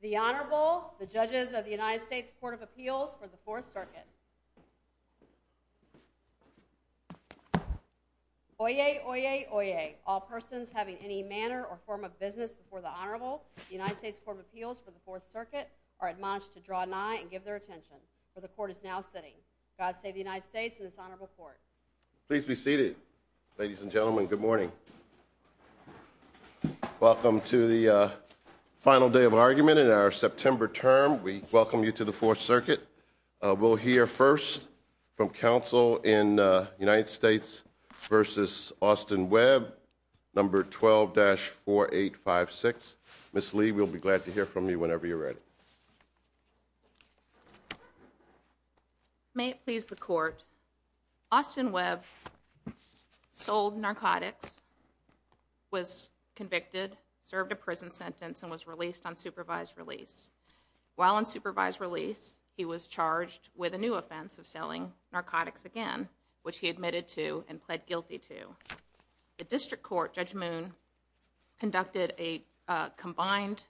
The Honorable, the Judges of the United States Court of Appeals for the Fourth Circuit. Oyez, oyez, oyez. All persons having any manner or form of business before the Honorable, the United States Court of Appeals for the Fourth Circuit, are admonished to draw an eye and give their attention. For the Court is now sitting. God save the United States and this Honorable Court. Please be seated. Ladies and gentlemen, good morning. Welcome to the final day of argument in our September term. We welcome you to the Fourth Circuit. We'll hear first from counsel in United States v. Austin Webb, No. 12-4856. Ms. Lee, we'll be glad to hear from you whenever you're ready. May it please the Court, Austin Webb sold narcotics, was convicted, served a prison sentence, and was released on supervised release. While on supervised release, he was charged with a new offense of selling narcotics again, which he admitted to and pled guilty to. The district court, Judge Moon, conducted a combined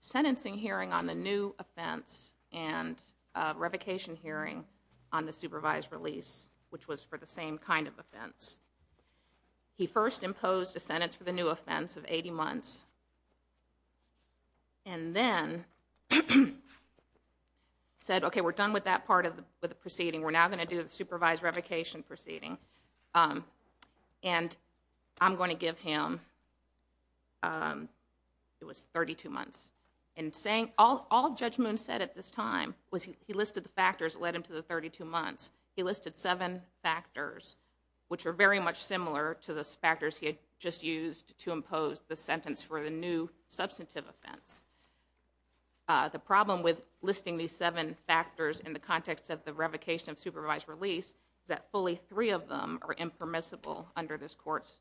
sentencing hearing on the new offense and a revocation hearing on the supervised release, which was for the same kind of offense. He first imposed a sentence for the new offense of 80 months and then said, okay, we're done with that part of the proceeding. We're now going to do the supervised revocation proceeding and I'm going to give him, it was 32 months. All Judge Moon said at this time was he listed the factors that led him to the 32 months. He listed seven factors, which are very much similar to the factors he had just used to impose the sentence for the new substantive offense. The problem with listing these seven factors in the context of the revocation of supervised release is that fully three of them are impermissible under this court's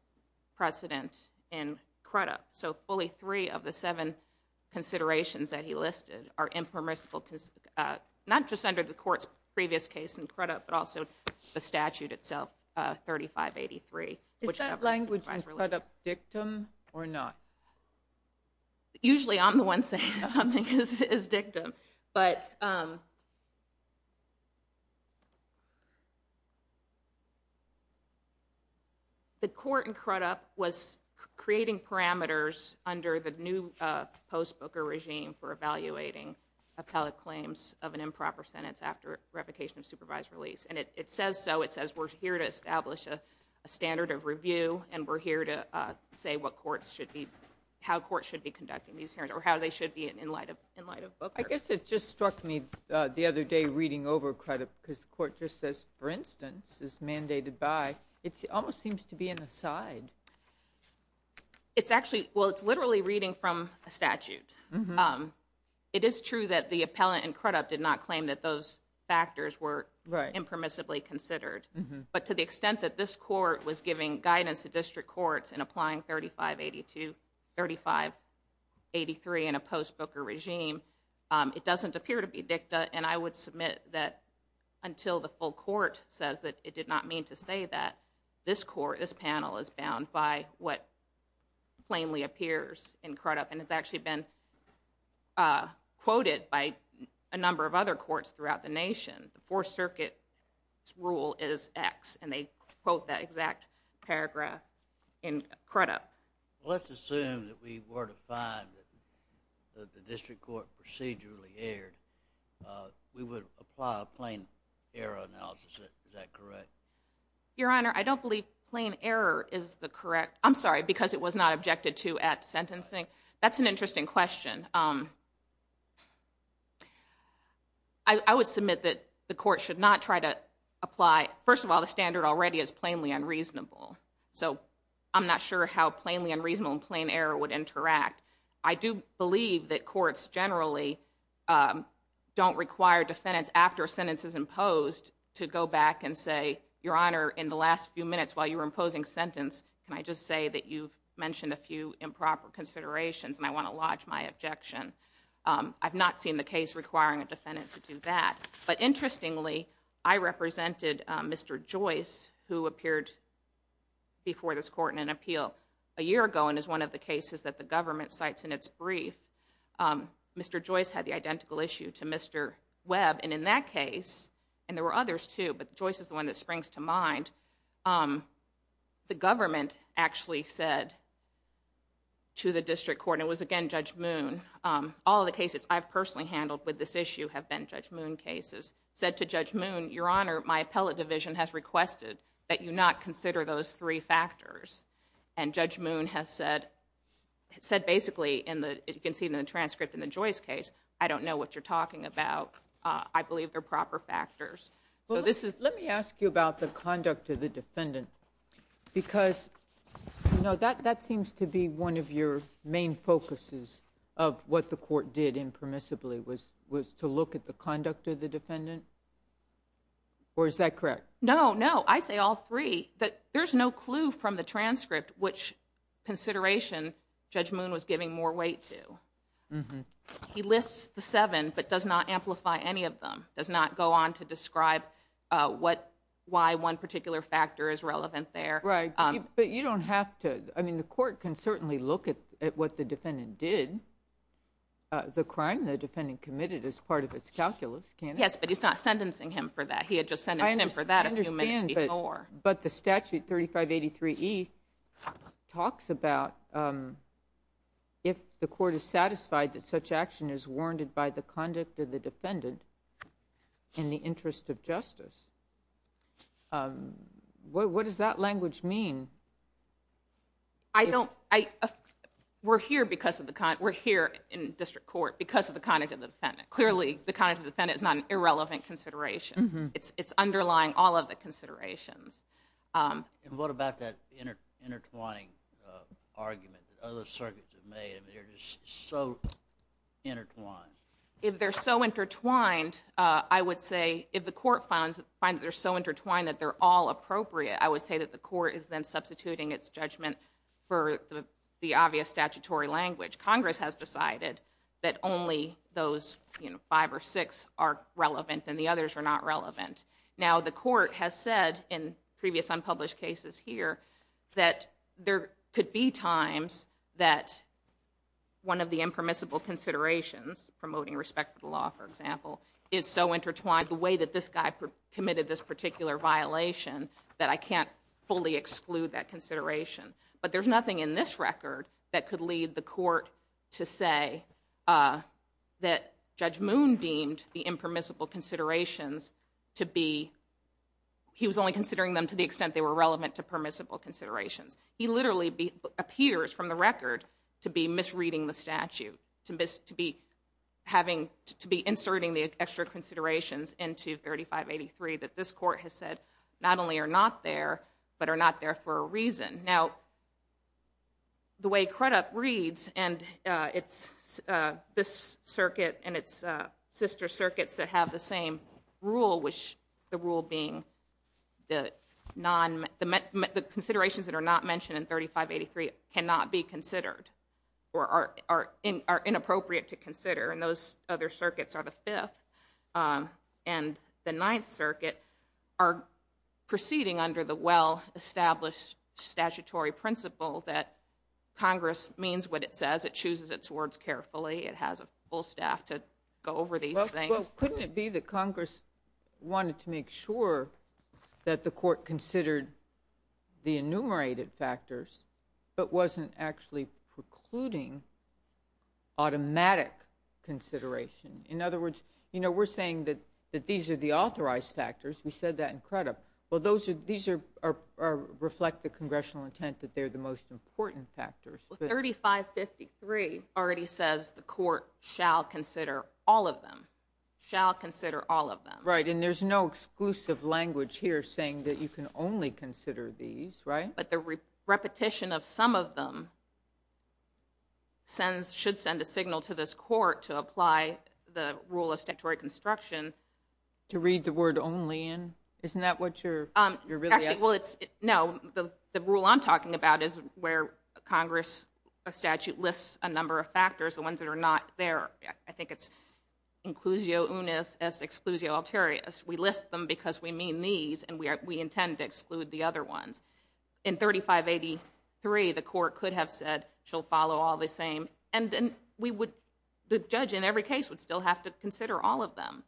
precedent in Crudup. So fully three of the seven considerations that he listed are impermissible, not just under the court's previous case in Crudup, but also the statute itself, 3583. Is that language in Crudup dictum or not? Usually I'm the one saying something is dictum, but the court in Crudup was creating parameters under the new post-Booker regime for evaluating appellate claims of an improper sentence after revocation of supervised release. And it says so, it says we're here to establish a standard of review and we're here to say what courts should be, how courts should be conducting these hearings or how they should be in light of Booker. I guess it just struck me the other day reading over Crudup because the court just says, for instance, is mandated by, it almost seems to be an aside. It's actually, well it's literally reading from a statute. It is true that the appellant in Crudup did not claim that those factors were impermissibly considered, but to the extent that this court was giving guidance to district courts in applying 3582, 3583 in a post-Booker regime, it doesn't appear to be dicta. And I would submit that until the full court says that it did not mean to say that, this court, this panel is bound by what plainly appears in Crudup. And it's actually been quoted by a number of other courts throughout the nation. The Fourth Circuit's rule is X, and they quote that exact paragraph in Crudup. Let's assume that we were to find that the district court procedurally erred, we would apply a plain error analysis. Is that correct? Your Honor, I don't believe plain error is the correct, I'm sorry, because it was not objected to at sentencing. That's an interesting question. I would submit that the court should not try to apply, first of all, the standard already is plainly unreasonable. So I'm not sure how plainly unreasonable and plain error would interact. I do believe that courts generally don't require defendants after a sentence is imposed to go back and say, Your Honor, in the last few minutes while you were imposing sentence, can I just say that you've mentioned a few improper considerations and I want to lodge my objection. I've not seen the case requiring a defendant to do that. But interestingly, I represented Mr. Joyce, who appeared before this court in an appeal a year ago and is one of the cases that the government cites in its brief. Mr. Joyce had the identical issue to Mr. Webb, and in that case, and there were others too, but Joyce is the one that springs to mind, the government actually said to the district court, and it was again Judge Moon, all the cases I've personally handled with this issue have been Judge Moon cases, said to Judge Moon, Your Honor, my appellate division has requested that you not consider those three factors. And Judge Moon has said basically, as you can see in the transcript in the Joyce case, I don't know what you're talking about. I believe they're proper factors. Let me ask you about the conduct of the defendant, because that seems to be one of your main focuses of what the court did impermissibly, was to look at the conduct of the defendant, or is that correct? No, no. I say all three, but there's no clue from the transcript which consideration Judge Moon was giving more weight to. He lists the seven, but does not amplify any of them, does not go on to describe why one particular factor is relevant there. Right, but you don't have to. I mean, the court can certainly look at what the defendant did, the crime the defendant committed as part of its calculus, can't it? Yes, but he's not sentencing him for that. He had just sent him for that a few minutes before. But the statute 3583E talks about if the court is satisfied that such action is warranted by the conduct of the defendant in the interest of justice. What does that language mean? We're here in district court because of the conduct of the defendant. Clearly, the conduct of the defendant is not an irrelevant consideration. It's underlying all of the considerations. And what about that intertwining argument that other circuits have made? I mean, they're just so intertwined. If they're so intertwined, I would say if the court finds that they're so intertwined that they're all appropriate, I would say that the court is then substituting its judgment for the obvious statutory language. Congress has decided that only those five or six are relevant and the others are not relevant. Now, the court has said in previous unpublished cases here that there could be times that one of the impermissible considerations, promoting respect for the law, is so intertwined, the way that this guy committed this particular violation, that I can't fully exclude that consideration. But there's nothing in this record that could lead the court to say that Judge Moon deemed the impermissible considerations to be, he was only considering them to the extent they were relevant to permissible considerations. He literally appears from the record to be misreading the statute, to be having, to be inserting the extra considerations into 3583 that this court has said not only are not there, but are not there for a reason. Now, the way Crudup reads, and it's this circuit and it's sister circuits that have the same rule, which the rule being the considerations that are not circuits are the fifth and the ninth circuit are proceeding under the well-established statutory principle that Congress means what it says. It chooses its words carefully. It has a full staff to go over these things. Couldn't it be that Congress wanted to make sure that the court In other words, we're saying that these are the authorized factors. We said that in Crudup. Well, these reflect the congressional intent that they're the most important factors. Well, 3553 already says the court shall consider all of them, shall consider all of them. Right. And there's no exclusive language here saying that you can only consider these, right? The repetition of some of them should send a signal to this court to apply the rule of statutory construction. To read the word only in, isn't that what you're really asking? No, the rule I'm talking about is where Congress statute lists a number of factors, the ones that are not there. I think it's inclusio unis as exclusio alterius. We list them because we mean these and we intend to exclude the other ones. In 3583, the court could have said she'll follow all the same. And then we would, the judge in every case would still have to consider all of them.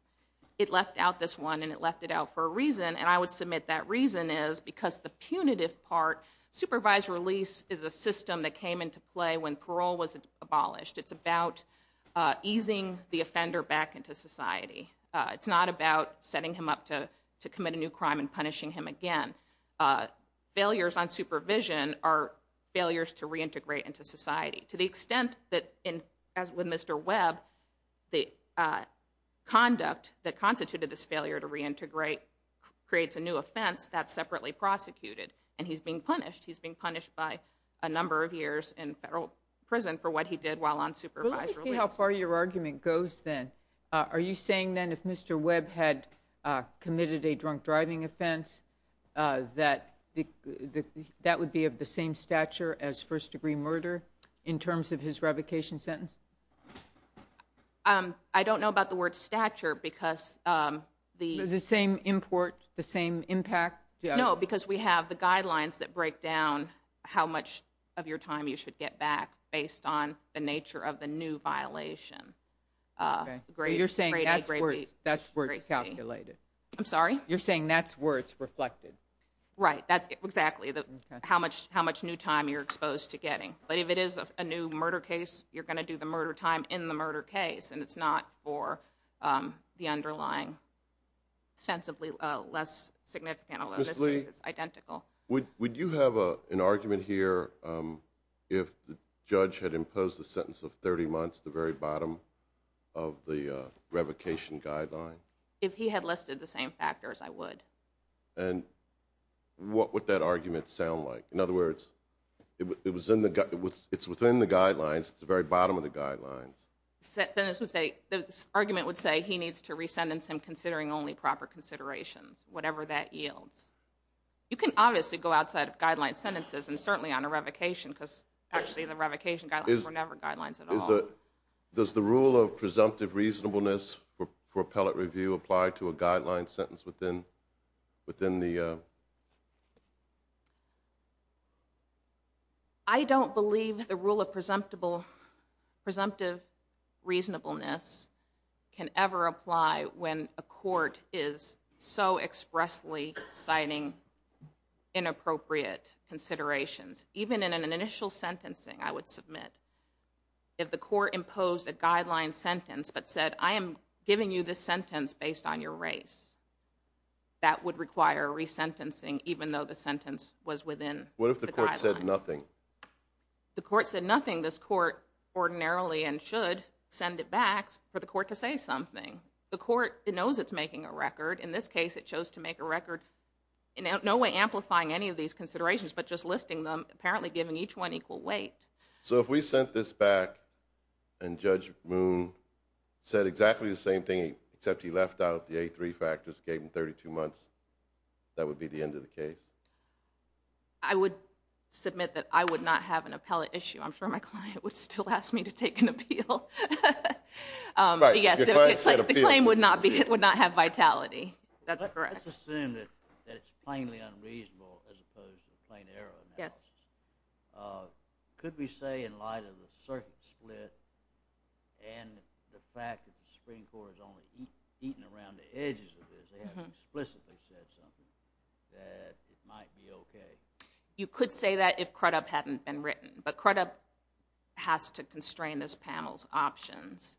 It left out this one and it left it out for a reason. And I would submit that reason is because the punitive part, supervised release is a system that came into play when parole was abolished. It's about easing the offender back into society. It's not about setting him up to commit a new crime and punishing him again. Failures on supervision are failures to reintegrate into society to the extent that, as with Mr. Webb, the conduct that constituted this failure to reintegrate creates a new offense that's separately prosecuted. And he's being punished. He's being punished by a number of years in federal prison for what he did on supervised release. Let me see how far your argument goes then. Are you saying then if Mr. Webb had committed a drunk driving offense that that would be of the same stature as first degree murder in terms of his revocation sentence? I don't know about the word stature because the... The same import, the same impact? No, because we have the guidelines that break down how much of your time you should get back based on the nature of the new violation. Okay, you're saying that's where it's calculated. I'm sorry? You're saying that's where it's reflected. Right, that's exactly how much new time you're exposed to getting. But if it is a new murder case, you're going to do the murder time in the murder case and it's not for the underlying sensibly less significant, although it's identical. Would you have an argument here if the judge had imposed the sentence of 30 months at the very bottom of the revocation guideline? If he had listed the same factors, I would. And what would that argument sound like? In other words, it's within the guidelines. It's the very bottom of the guidelines. Then this would say, this argument would say he needs to re-sentence him considering only proper considerations, whatever that yields. You can obviously go outside of guideline sentences and certainly on a revocation because actually the revocation guidelines were never guidelines at all. Does the rule of presumptive reasonableness for appellate review apply to a court? I don't think presumptive reasonableness can ever apply when a court is so expressly citing inappropriate considerations. Even in an initial sentencing, I would submit. If the court imposed a guideline sentence but said, I am giving you this sentence based on your race, that would require re-sentencing even though the sentence was within the guidelines. What if the court said nothing? The court said nothing. This court ordinarily and should send it back for the court to say something. The court knows it's making a record. In this case, it chose to make a record in no way amplifying any of these considerations but just listing them, apparently giving each one equal weight. So if we sent this back and Judge Moon said exactly the same thing except he left out the A3 factors, gave him 32 months, that would be the end of the case? I would submit that I would not have an appellate issue. I'm sure my client would still ask me to take an appeal. But yes, the claim would not have vitality. That's correct. Let's assume that it's plainly unreasonable as opposed to plain error analysis. Could we say in light of the circuit split and the fact that the Supreme Court has only eaten around the edges of this, they haven't explicitly said something, that it might be okay? You could say that if CRUDUP hadn't been written. But CRUDUP has to constrain this panel's options.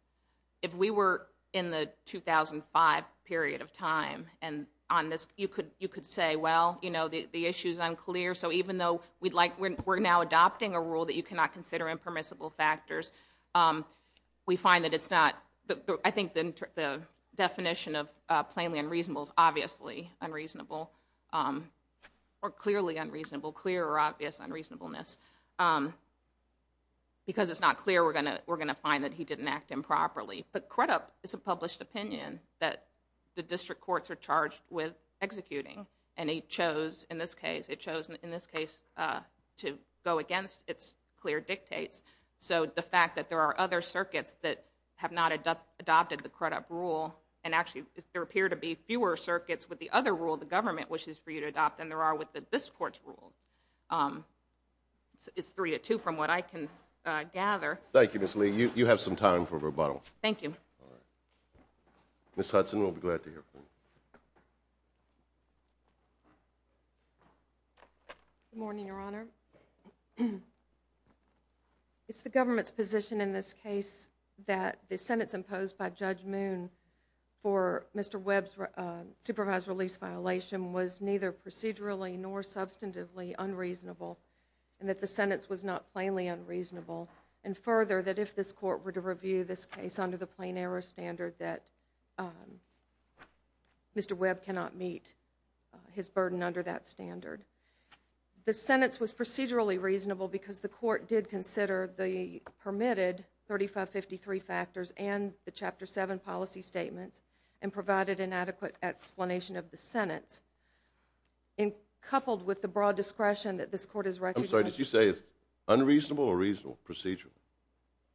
If we were in the 2005 period of time and on this, you could say, well, you know, the issue's unclear. So even though we're now adopting a rule that you cannot consider impermissible factors, we find that it's not. I think the definition of plainly unreasonable is obviously unreasonable or clearly unreasonable, clear or obvious unreasonableness. Because it's not clear, we're going to find that he didn't act improperly. But CRUDUP is a published opinion that the district courts are charged with executing. And it chose, it chose in this case to go against its clear dictates. So the fact that there are other circuits that have not adopted the CRUDUP rule, and actually there appear to be fewer circuits with the other rule the government wishes for you to adopt than there are with this court's rule, is three to two from what I can gather. Thank you, Ms. Lee. You have some time for rebuttal. Thank you. Ms. Hudson, we'll be glad to hear from you. Good morning, Your Honor. It's the government's position in this case that the sentence imposed by Judge Moon for Mr. Webb's supervised release violation was neither procedurally nor substantively unreasonable, and that the sentence was not plainly unreasonable. And further, that if this court were to review this case under the plain error standard, that Mr. Webb cannot meet his burden under that standard. The sentence was procedurally reasonable because the court did consider the permitted 3553 factors and the Chapter 7 policy statements, and provided an adequate explanation of the sentence. And coupled with the broad discretion that this court has recognized... I'm sorry, did you say it's unreasonable or reasonable, procedural?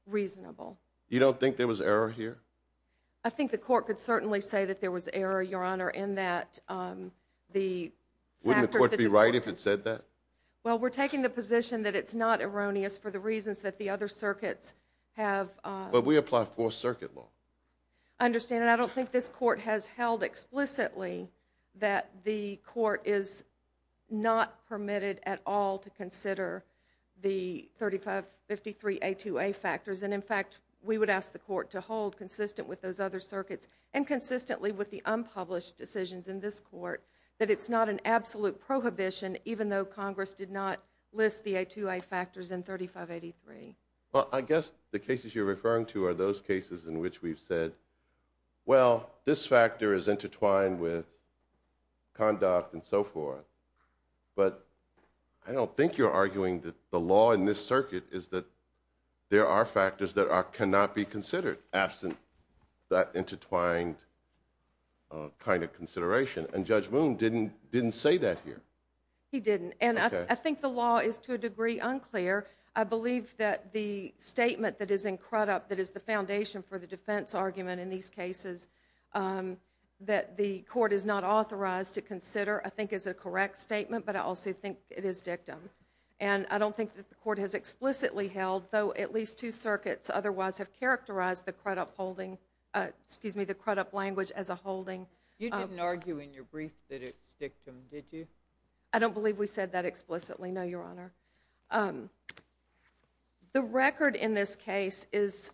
Reasonable. You don't think there was error here? I think the court could certainly say that there was error, Your Honor, in that the factors... Wouldn't the court be right if it said that? Well, we're taking the position that it's not erroneous for the reasons that the other circuits have... But we apply fourth circuit law. I understand, and I don't think this court has held explicitly that the court is not permitted at all to consider the 3553A2A factors. And in fact, we would ask the court to hold consistent with those other circuits and consistently with the unpublished decisions in this court that it's not an absolute prohibition, even though Congress did not list the A2A factors in 3583. Well, I guess the cases you're referring to are those cases in which we've said, well, this factor is intertwined with conduct and so forth. But I don't think you're arguing that the law in this circuit is that there are factors that cannot be considered absent that intertwined kind of consideration. And Judge Moon didn't say that here. He didn't. And I think the law is to a degree unclear. I believe that the statement that is in Crudup that is the foundation for the defense argument in these cases that the court is not authorized to consider, I think is a correct statement, but I also think it is dictum. And I don't think that the court has explicitly held, though at least two circuits otherwise have characterized the Crudup holding, excuse me, the Crudup language as a holding. You didn't argue in your brief that it's dictum, did you? I don't believe we said that explicitly. No, Your Honor. The record in this case is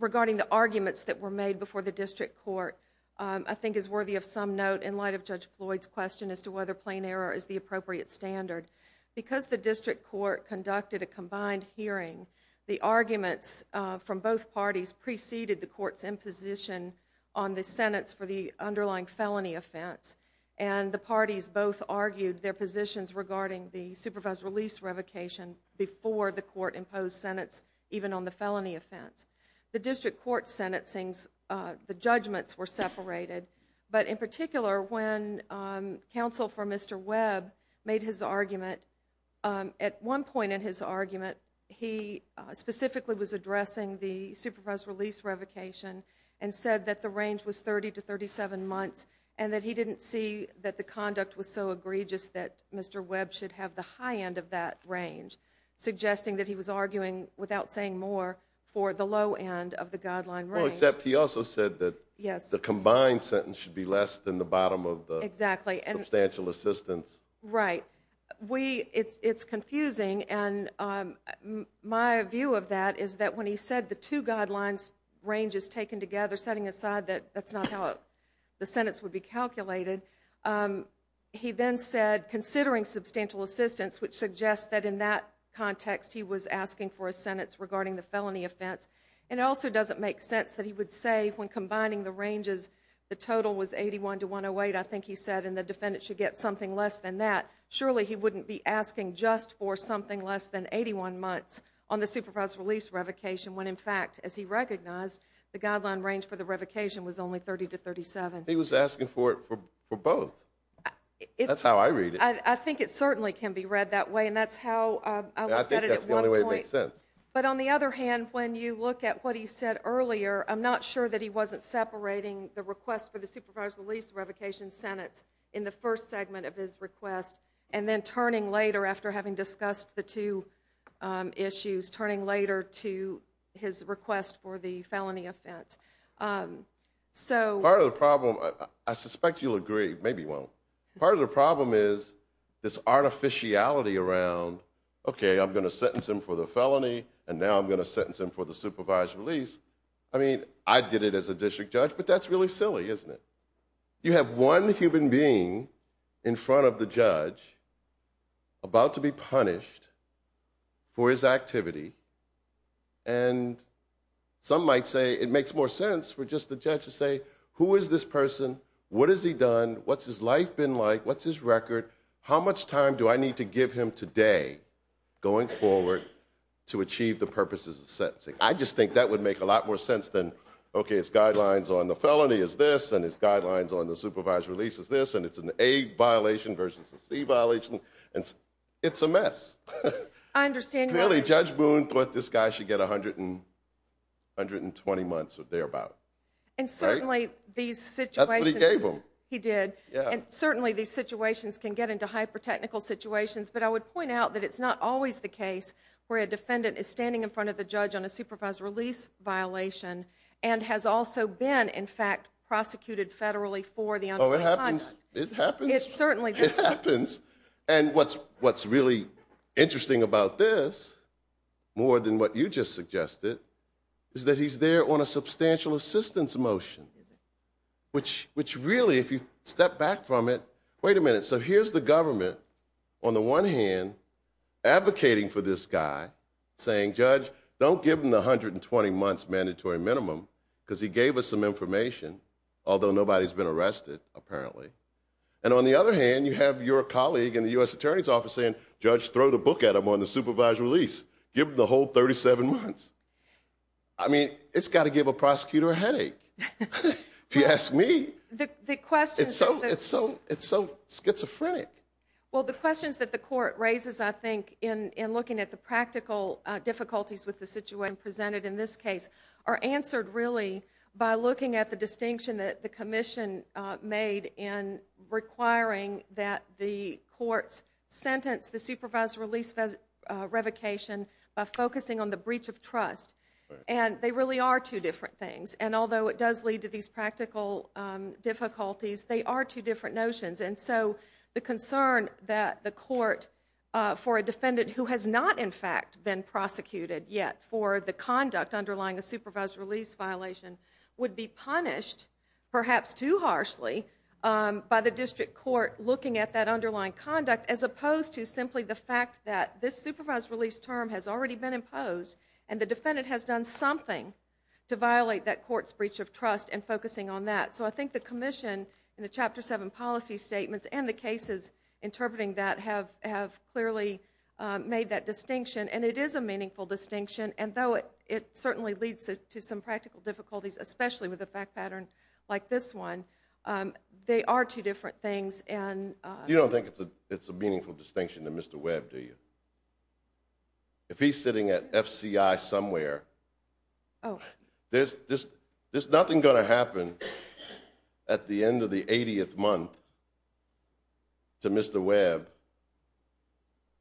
regarding the arguments that were made before the district court, I think is worthy of some note in light of Judge Floyd's question as to whether plain error is the appropriate standard. Because the district court conducted a combined hearing, the arguments from both parties preceded the court's imposition on the sentence for the underlying felony offense. And the parties both argued their positions regarding the supervised release revocation before the court imposed sentence even on the felony offense. The district court sentencing, the judgments were separated. But in particular, when counsel for specifically was addressing the supervised release revocation and said that the range was 30 to 37 months and that he didn't see that the conduct was so egregious that Mr. Webb should have the high end of that range, suggesting that he was arguing without saying more for the low end of the guideline range. Except he also said that the combined sentence should be less than the bottom of the substantial assistance. Right. It's confusing. And my view of that is that when he said the two guidelines ranges taken together, setting aside that that's not how the sentence would be calculated. He then said, considering substantial assistance, which suggests that in that context, he was asking for a sentence regarding the felony offense. And it also makes sense that he would say when combining the ranges, the total was 81 to 108. I think he said in the defendant should get something less than that. Surely he wouldn't be asking just for something less than 81 months on the supervised release revocation, when in fact, as he recognized, the guideline range for the revocation was only 30 to 37. He was asking for it for both. That's how I read it. I think it certainly can be read that way. And that's how I think that's the only way it makes sense. But on the other hand, when you look at what he said earlier, I'm not sure that he wasn't separating the request for the supervised release revocation sentence in the first segment of his request and then turning later after having discussed the two issues, turning later to his request for the felony offense. So part of the problem, I suspect you'll agree, maybe you won't. Part of the problem is this artificiality around, okay, I'm going to sentence him for the felony and now I'm going to sentence him for the supervised release. I mean, I did it as a district judge, but that's really silly, isn't it? You have one human being in front of the judge about to be punished for his activity. And some might say it makes more sense for just the judge to say, who is this person? What has he done? What's his life been like? What's his record? How much time do I need to give him today going forward to achieve the purposes of sentencing? I just think that would make a lot more sense than, okay, his guidelines on the felony is this, and his guidelines on the supervised release is this, and it's an A violation versus a C violation. It's a mess. I understand. Clearly, Judge Boone thought this guy should get 120 months or thereabout. And certainly, these situations can get into hyper-technical situations, but I would point out that it's not always the case where a defendant is standing in front of the judge on a supervised release violation and has also been, in fact, prosecuted federally for the... Oh, it happens. It happens. It certainly does. It happens. And what's really interesting about this, more than what you just suggested, is that he's there on a substantial assistance motion, which really, if you step back from it... Wait a minute. So here's the government, on the one hand, advocating for this guy, saying, Judge, don't give him the 120 months mandatory minimum, because he gave us some information, although nobody's been arrested, apparently. And on the other hand, you have your colleague in the U.S. Attorney's Office saying, Judge, throw the book at him on the supervised release. Give him the whole 37 months. I mean, it's got to give a prosecutor a headache, if you ask me. It's so schizophrenic. Well, the questions that the court raises, I think, in looking at the practical difficulties with the situation presented in this case, are answered, really, by looking at the distinction that the commission made in requiring that the courts sentence the supervised release revocation by focusing on the breach of trust. And they really are two different things. And although it does lead to these practical difficulties, they are two different notions. And so the concern that the court, for a defendant who has not, in fact, been prosecuted yet for the perhaps too harshly by the district court, looking at that underlying conduct, as opposed to simply the fact that this supervised release term has already been imposed, and the defendant has done something to violate that court's breach of trust and focusing on that. So I think the commission in the Chapter 7 policy statements and the cases interpreting that have clearly made that distinction. And it is a meaningful distinction, and though it certainly leads to some practical difficulties, especially with a fact pattern like this one, they are two different things. You don't think it's a meaningful distinction to Mr. Webb, do you? If he's sitting at FCI somewhere, there's nothing going to happen at the end of the 80th month to Mr. Webb.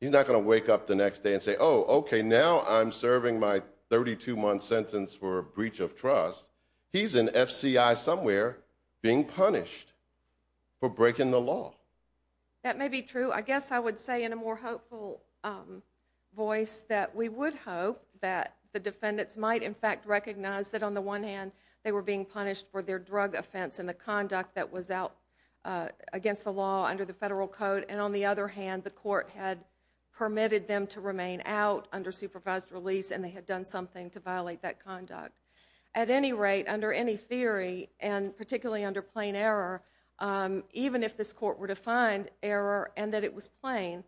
He's not going to wake up the next day and say, oh, okay, now I'm serving my 32-month sentence for a breach of trust. He's in FCI somewhere being punished for breaking the law. That may be true. I guess I would say in a more hopeful voice that we would hope that the defendants might, in fact, recognize that on the one hand, they were being punished for their drug offense and the conduct that was out against the law under the federal code, and on the other hand, the court had permitted them to remain out under supervised release, and they had done something to violate that conduct. At any rate, under any theory, and particularly under plain error, even if this court were to find error and that it was plain,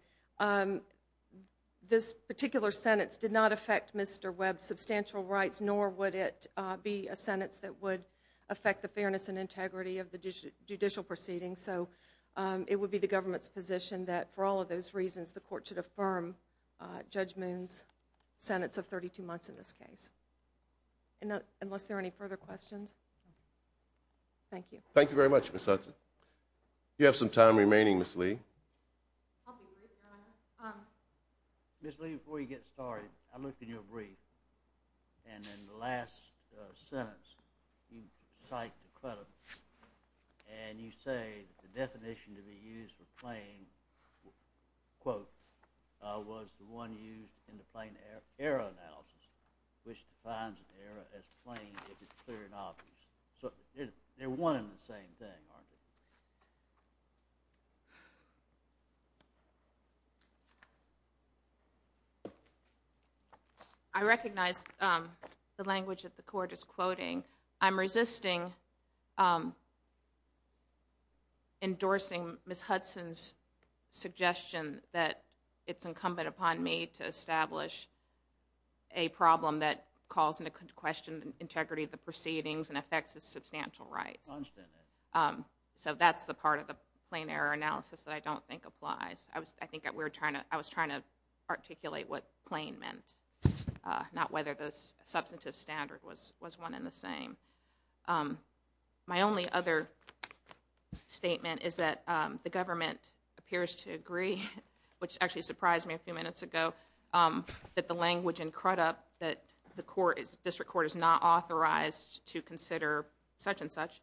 this particular sentence did not affect Mr. Webb's substantial rights, nor would it be a sentence that would affect the fairness and integrity of the judicial proceedings. So it would be the government's position that for all those reasons, the court should affirm Judge Moon's sentence of 32 months in this case. Unless there are any further questions? Thank you. Thank you very much, Ms. Hudson. You have some time remaining, Ms. Lee. Ms. Lee, before you get started, I looked in your brief, and in the last sentence, you cite the credible, and you say that the definition to be used for plain, quote, was the one used in the plain error analysis, which defines an error as plain if it's clear and obvious. So they're one and the same thing, aren't they? Thank you. I recognize the language that the court is quoting. I'm resisting endorsing Ms. Hudson's suggestion that it's incumbent upon me to establish a problem that calls into question the integrity of the proceedings and affects its substantial rights. So that's the part of the plain error analysis that I don't think applies. I was trying to articulate what plain meant, not whether the substantive standard was one and the same. My only other statement is that the government appears to agree, which actually surprised me a few minutes ago, that the language in Crudup that the district court is not authorized to consider such and such.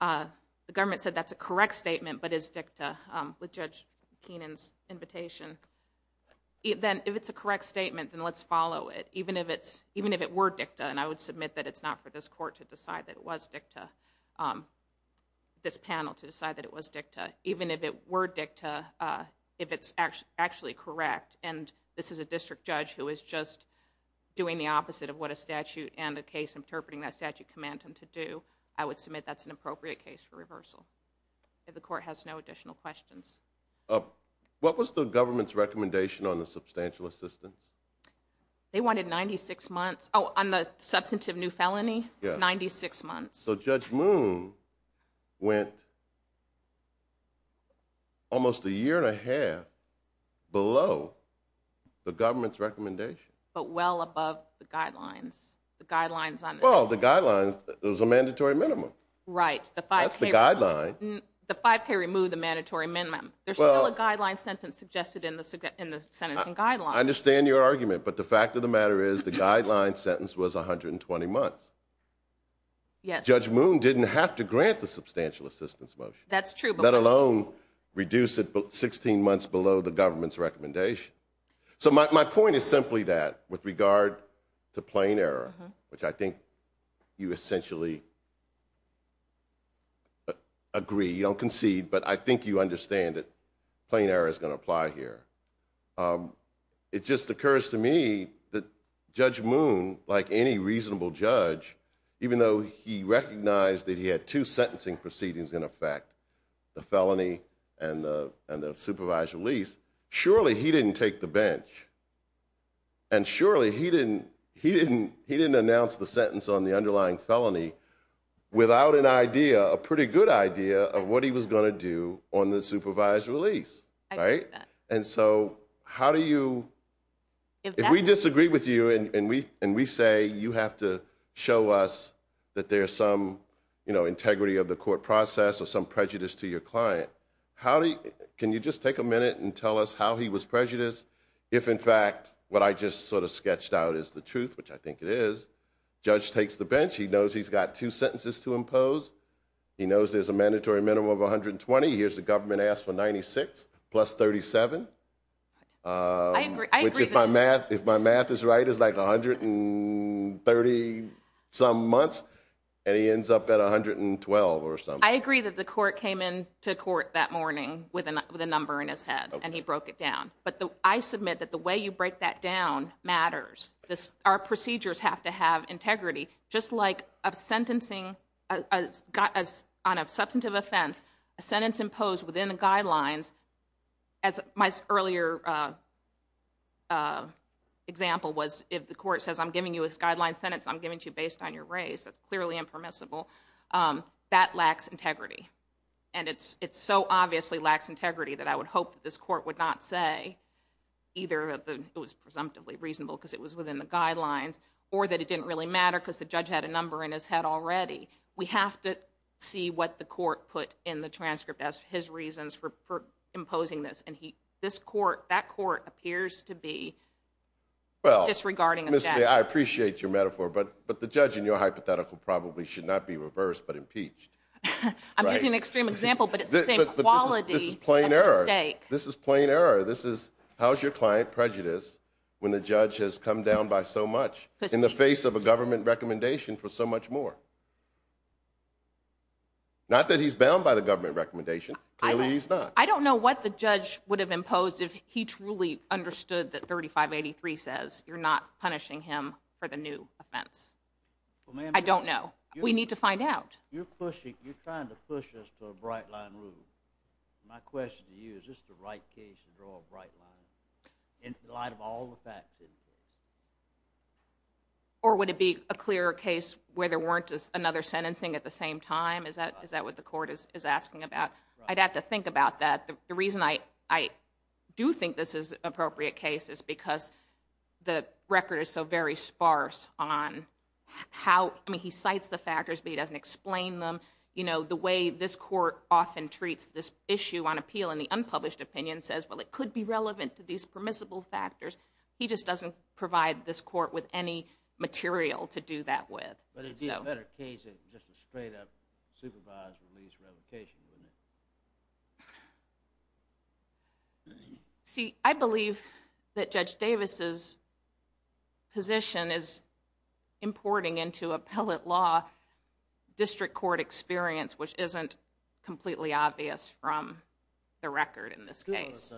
The government said that's a correct statement, but is dicta, with Judge Keenan's invitation. If it's a correct statement, then let's follow it, even if it were dicta. And I would submit that it's not for this court to decide that it was dicta, this panel to decide that it was dicta, even if it were dicta, if it's actually correct. And this is a district judge who is just doing the opposite of what a statute and a case interpreting that statute command him to do. I would submit that's an appropriate case for reversal if the court has no additional questions. What was the government's recommendation on the substantial assistance? They wanted 96 months. Oh, on the substantive new felony? Yeah. 96 months. So Judge Moon went almost a year and a half below the government's recommendation. But well above the guidelines. Well, the guidelines, there was a mandatory minimum. Right. That's the guideline. The 5K removed the mandatory minimum. There's still a guideline sentence suggested in the sentencing guideline. I understand your argument, but the fact of the matter is the guideline sentence was 120 months. Yes. Judge Moon didn't have to grant the substantial assistance motion. That's true. Let alone reduce it 16 months below the government's recommendation. So my point is simply that with regard to plain error, which I think you essentially agree, you don't concede, but I think you understand that plain error is going to apply here. It just occurs to me that Judge Moon, like any reasonable judge, even though he recognized that he had two sentencing proceedings in effect, the felony and the supervised release, surely he didn't take the bench. And surely he didn't announce the sentence on the underlying felony without an idea, a pretty good idea, of what he was going to do on the supervised release. Right. And so how do you, if we disagree with you and we say you have to show us that there's some, you know, integrity of the court process or some prejudice to your client, how do you, can you just take a minute and tell us how he was prejudiced? If in fact, what I just sort of sketched out is the truth, which I think it is. Judge takes the bench. He knows he's got two sentences to impose. He knows there's a mandatory minimum of 120. Here's the government asked for 96 plus 37. If my math is right, it's like 130 some months and he ends up at 112 or something. I agree that the court came in to court that morning with a number in his head and he broke it down. But I submit that the way you break that down matters. Our procedures have to have guidelines. As my earlier example was, if the court says I'm giving you a guideline sentence, I'm giving to you based on your race, that's clearly impermissible. That lacks integrity. And it's so obviously lacks integrity that I would hope that this court would not say either that it was presumptively reasonable because it was within the guidelines or that it didn't really matter because the judge had a number in his head already. We have to see what the court put in the transcript as his reasons for imposing this. And he, this court, that court appears to be disregarding. I appreciate your metaphor, but the judge in your hypothetical probably should not be reversed but impeached. I'm using an extreme example, but it's the same quality. This is plain error. This is plain error. This is how's your client prejudice when the judge has come down by so much in the face of a government recommendation for so much more. Not that he's bound by the government recommendation. Clearly he's not. I don't know what the judge would have imposed if he truly understood that 3583 says you're not punishing him for the new offense. I don't know. We need to find out. You're pushing, you're trying to push us to a bright line rule. My question to you, is this the right case to draw a bright line in light of all the facts? Or would it be a clearer case where there weren't another sentencing at the same time? Is that, is that what the court is asking about? I'd have to think about that. The reason I do think this is appropriate case is because the record is so very sparse on how, I mean, he cites the factors, but he doesn't explain them. You know, the way this court often treats this issue on appeal in the unpublished opinion says, well, it could be relevant to these permissible factors. He just doesn't provide this court with any material to do that with. But it'd be a better case if it was just a straight up supervised release revocation, wouldn't it? See, I believe that Judge Davis's position is importing into appellate law district court experience, which isn't completely obvious from the record in this case.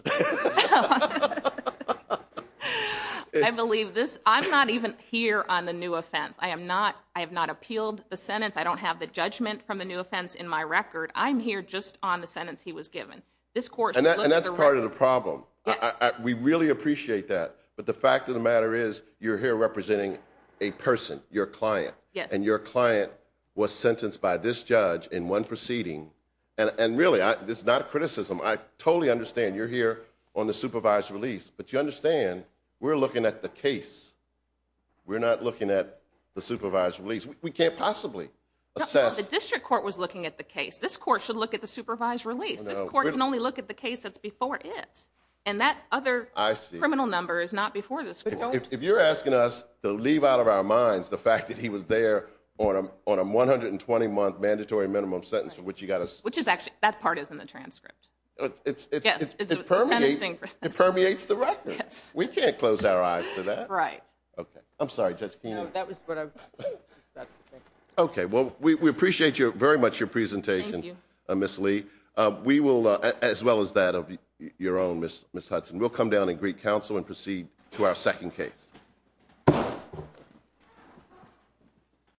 I believe this, I'm not even here on the new offense. I am not, I have not appealed the sentence. I don't have the judgment from the new offense in my record. I'm here just on the sentence he was given. And that's part of the problem. We really appreciate that. But the fact of the matter is you're here representing a person, your client, and your client was sentenced by this judge in one proceeding. And really, this is not a criticism. I totally understand you're here on the supervised release, but you understand we're looking at the case. We're not looking at the supervised release. We can't possibly assess. The district court was looking at the case. This court should look at the supervised release. This court can only look at the case that's before it. And that other criminal number is not before this. If you're asking us to leave out of our minds the fact that he was there on a 120-month mandatory minimum sentence for which you got us. Which is actually, that part is in the transcript. It permeates the record. We can't close our eyes to that. Right. Okay. I'm sorry, Judge Keenan. That was what I was about to say. Okay. Well, we appreciate very much your presentation, Ms. Lee. We will, as well as your own, Ms. Hudson. We'll come down and greet counsel and proceed to our second case.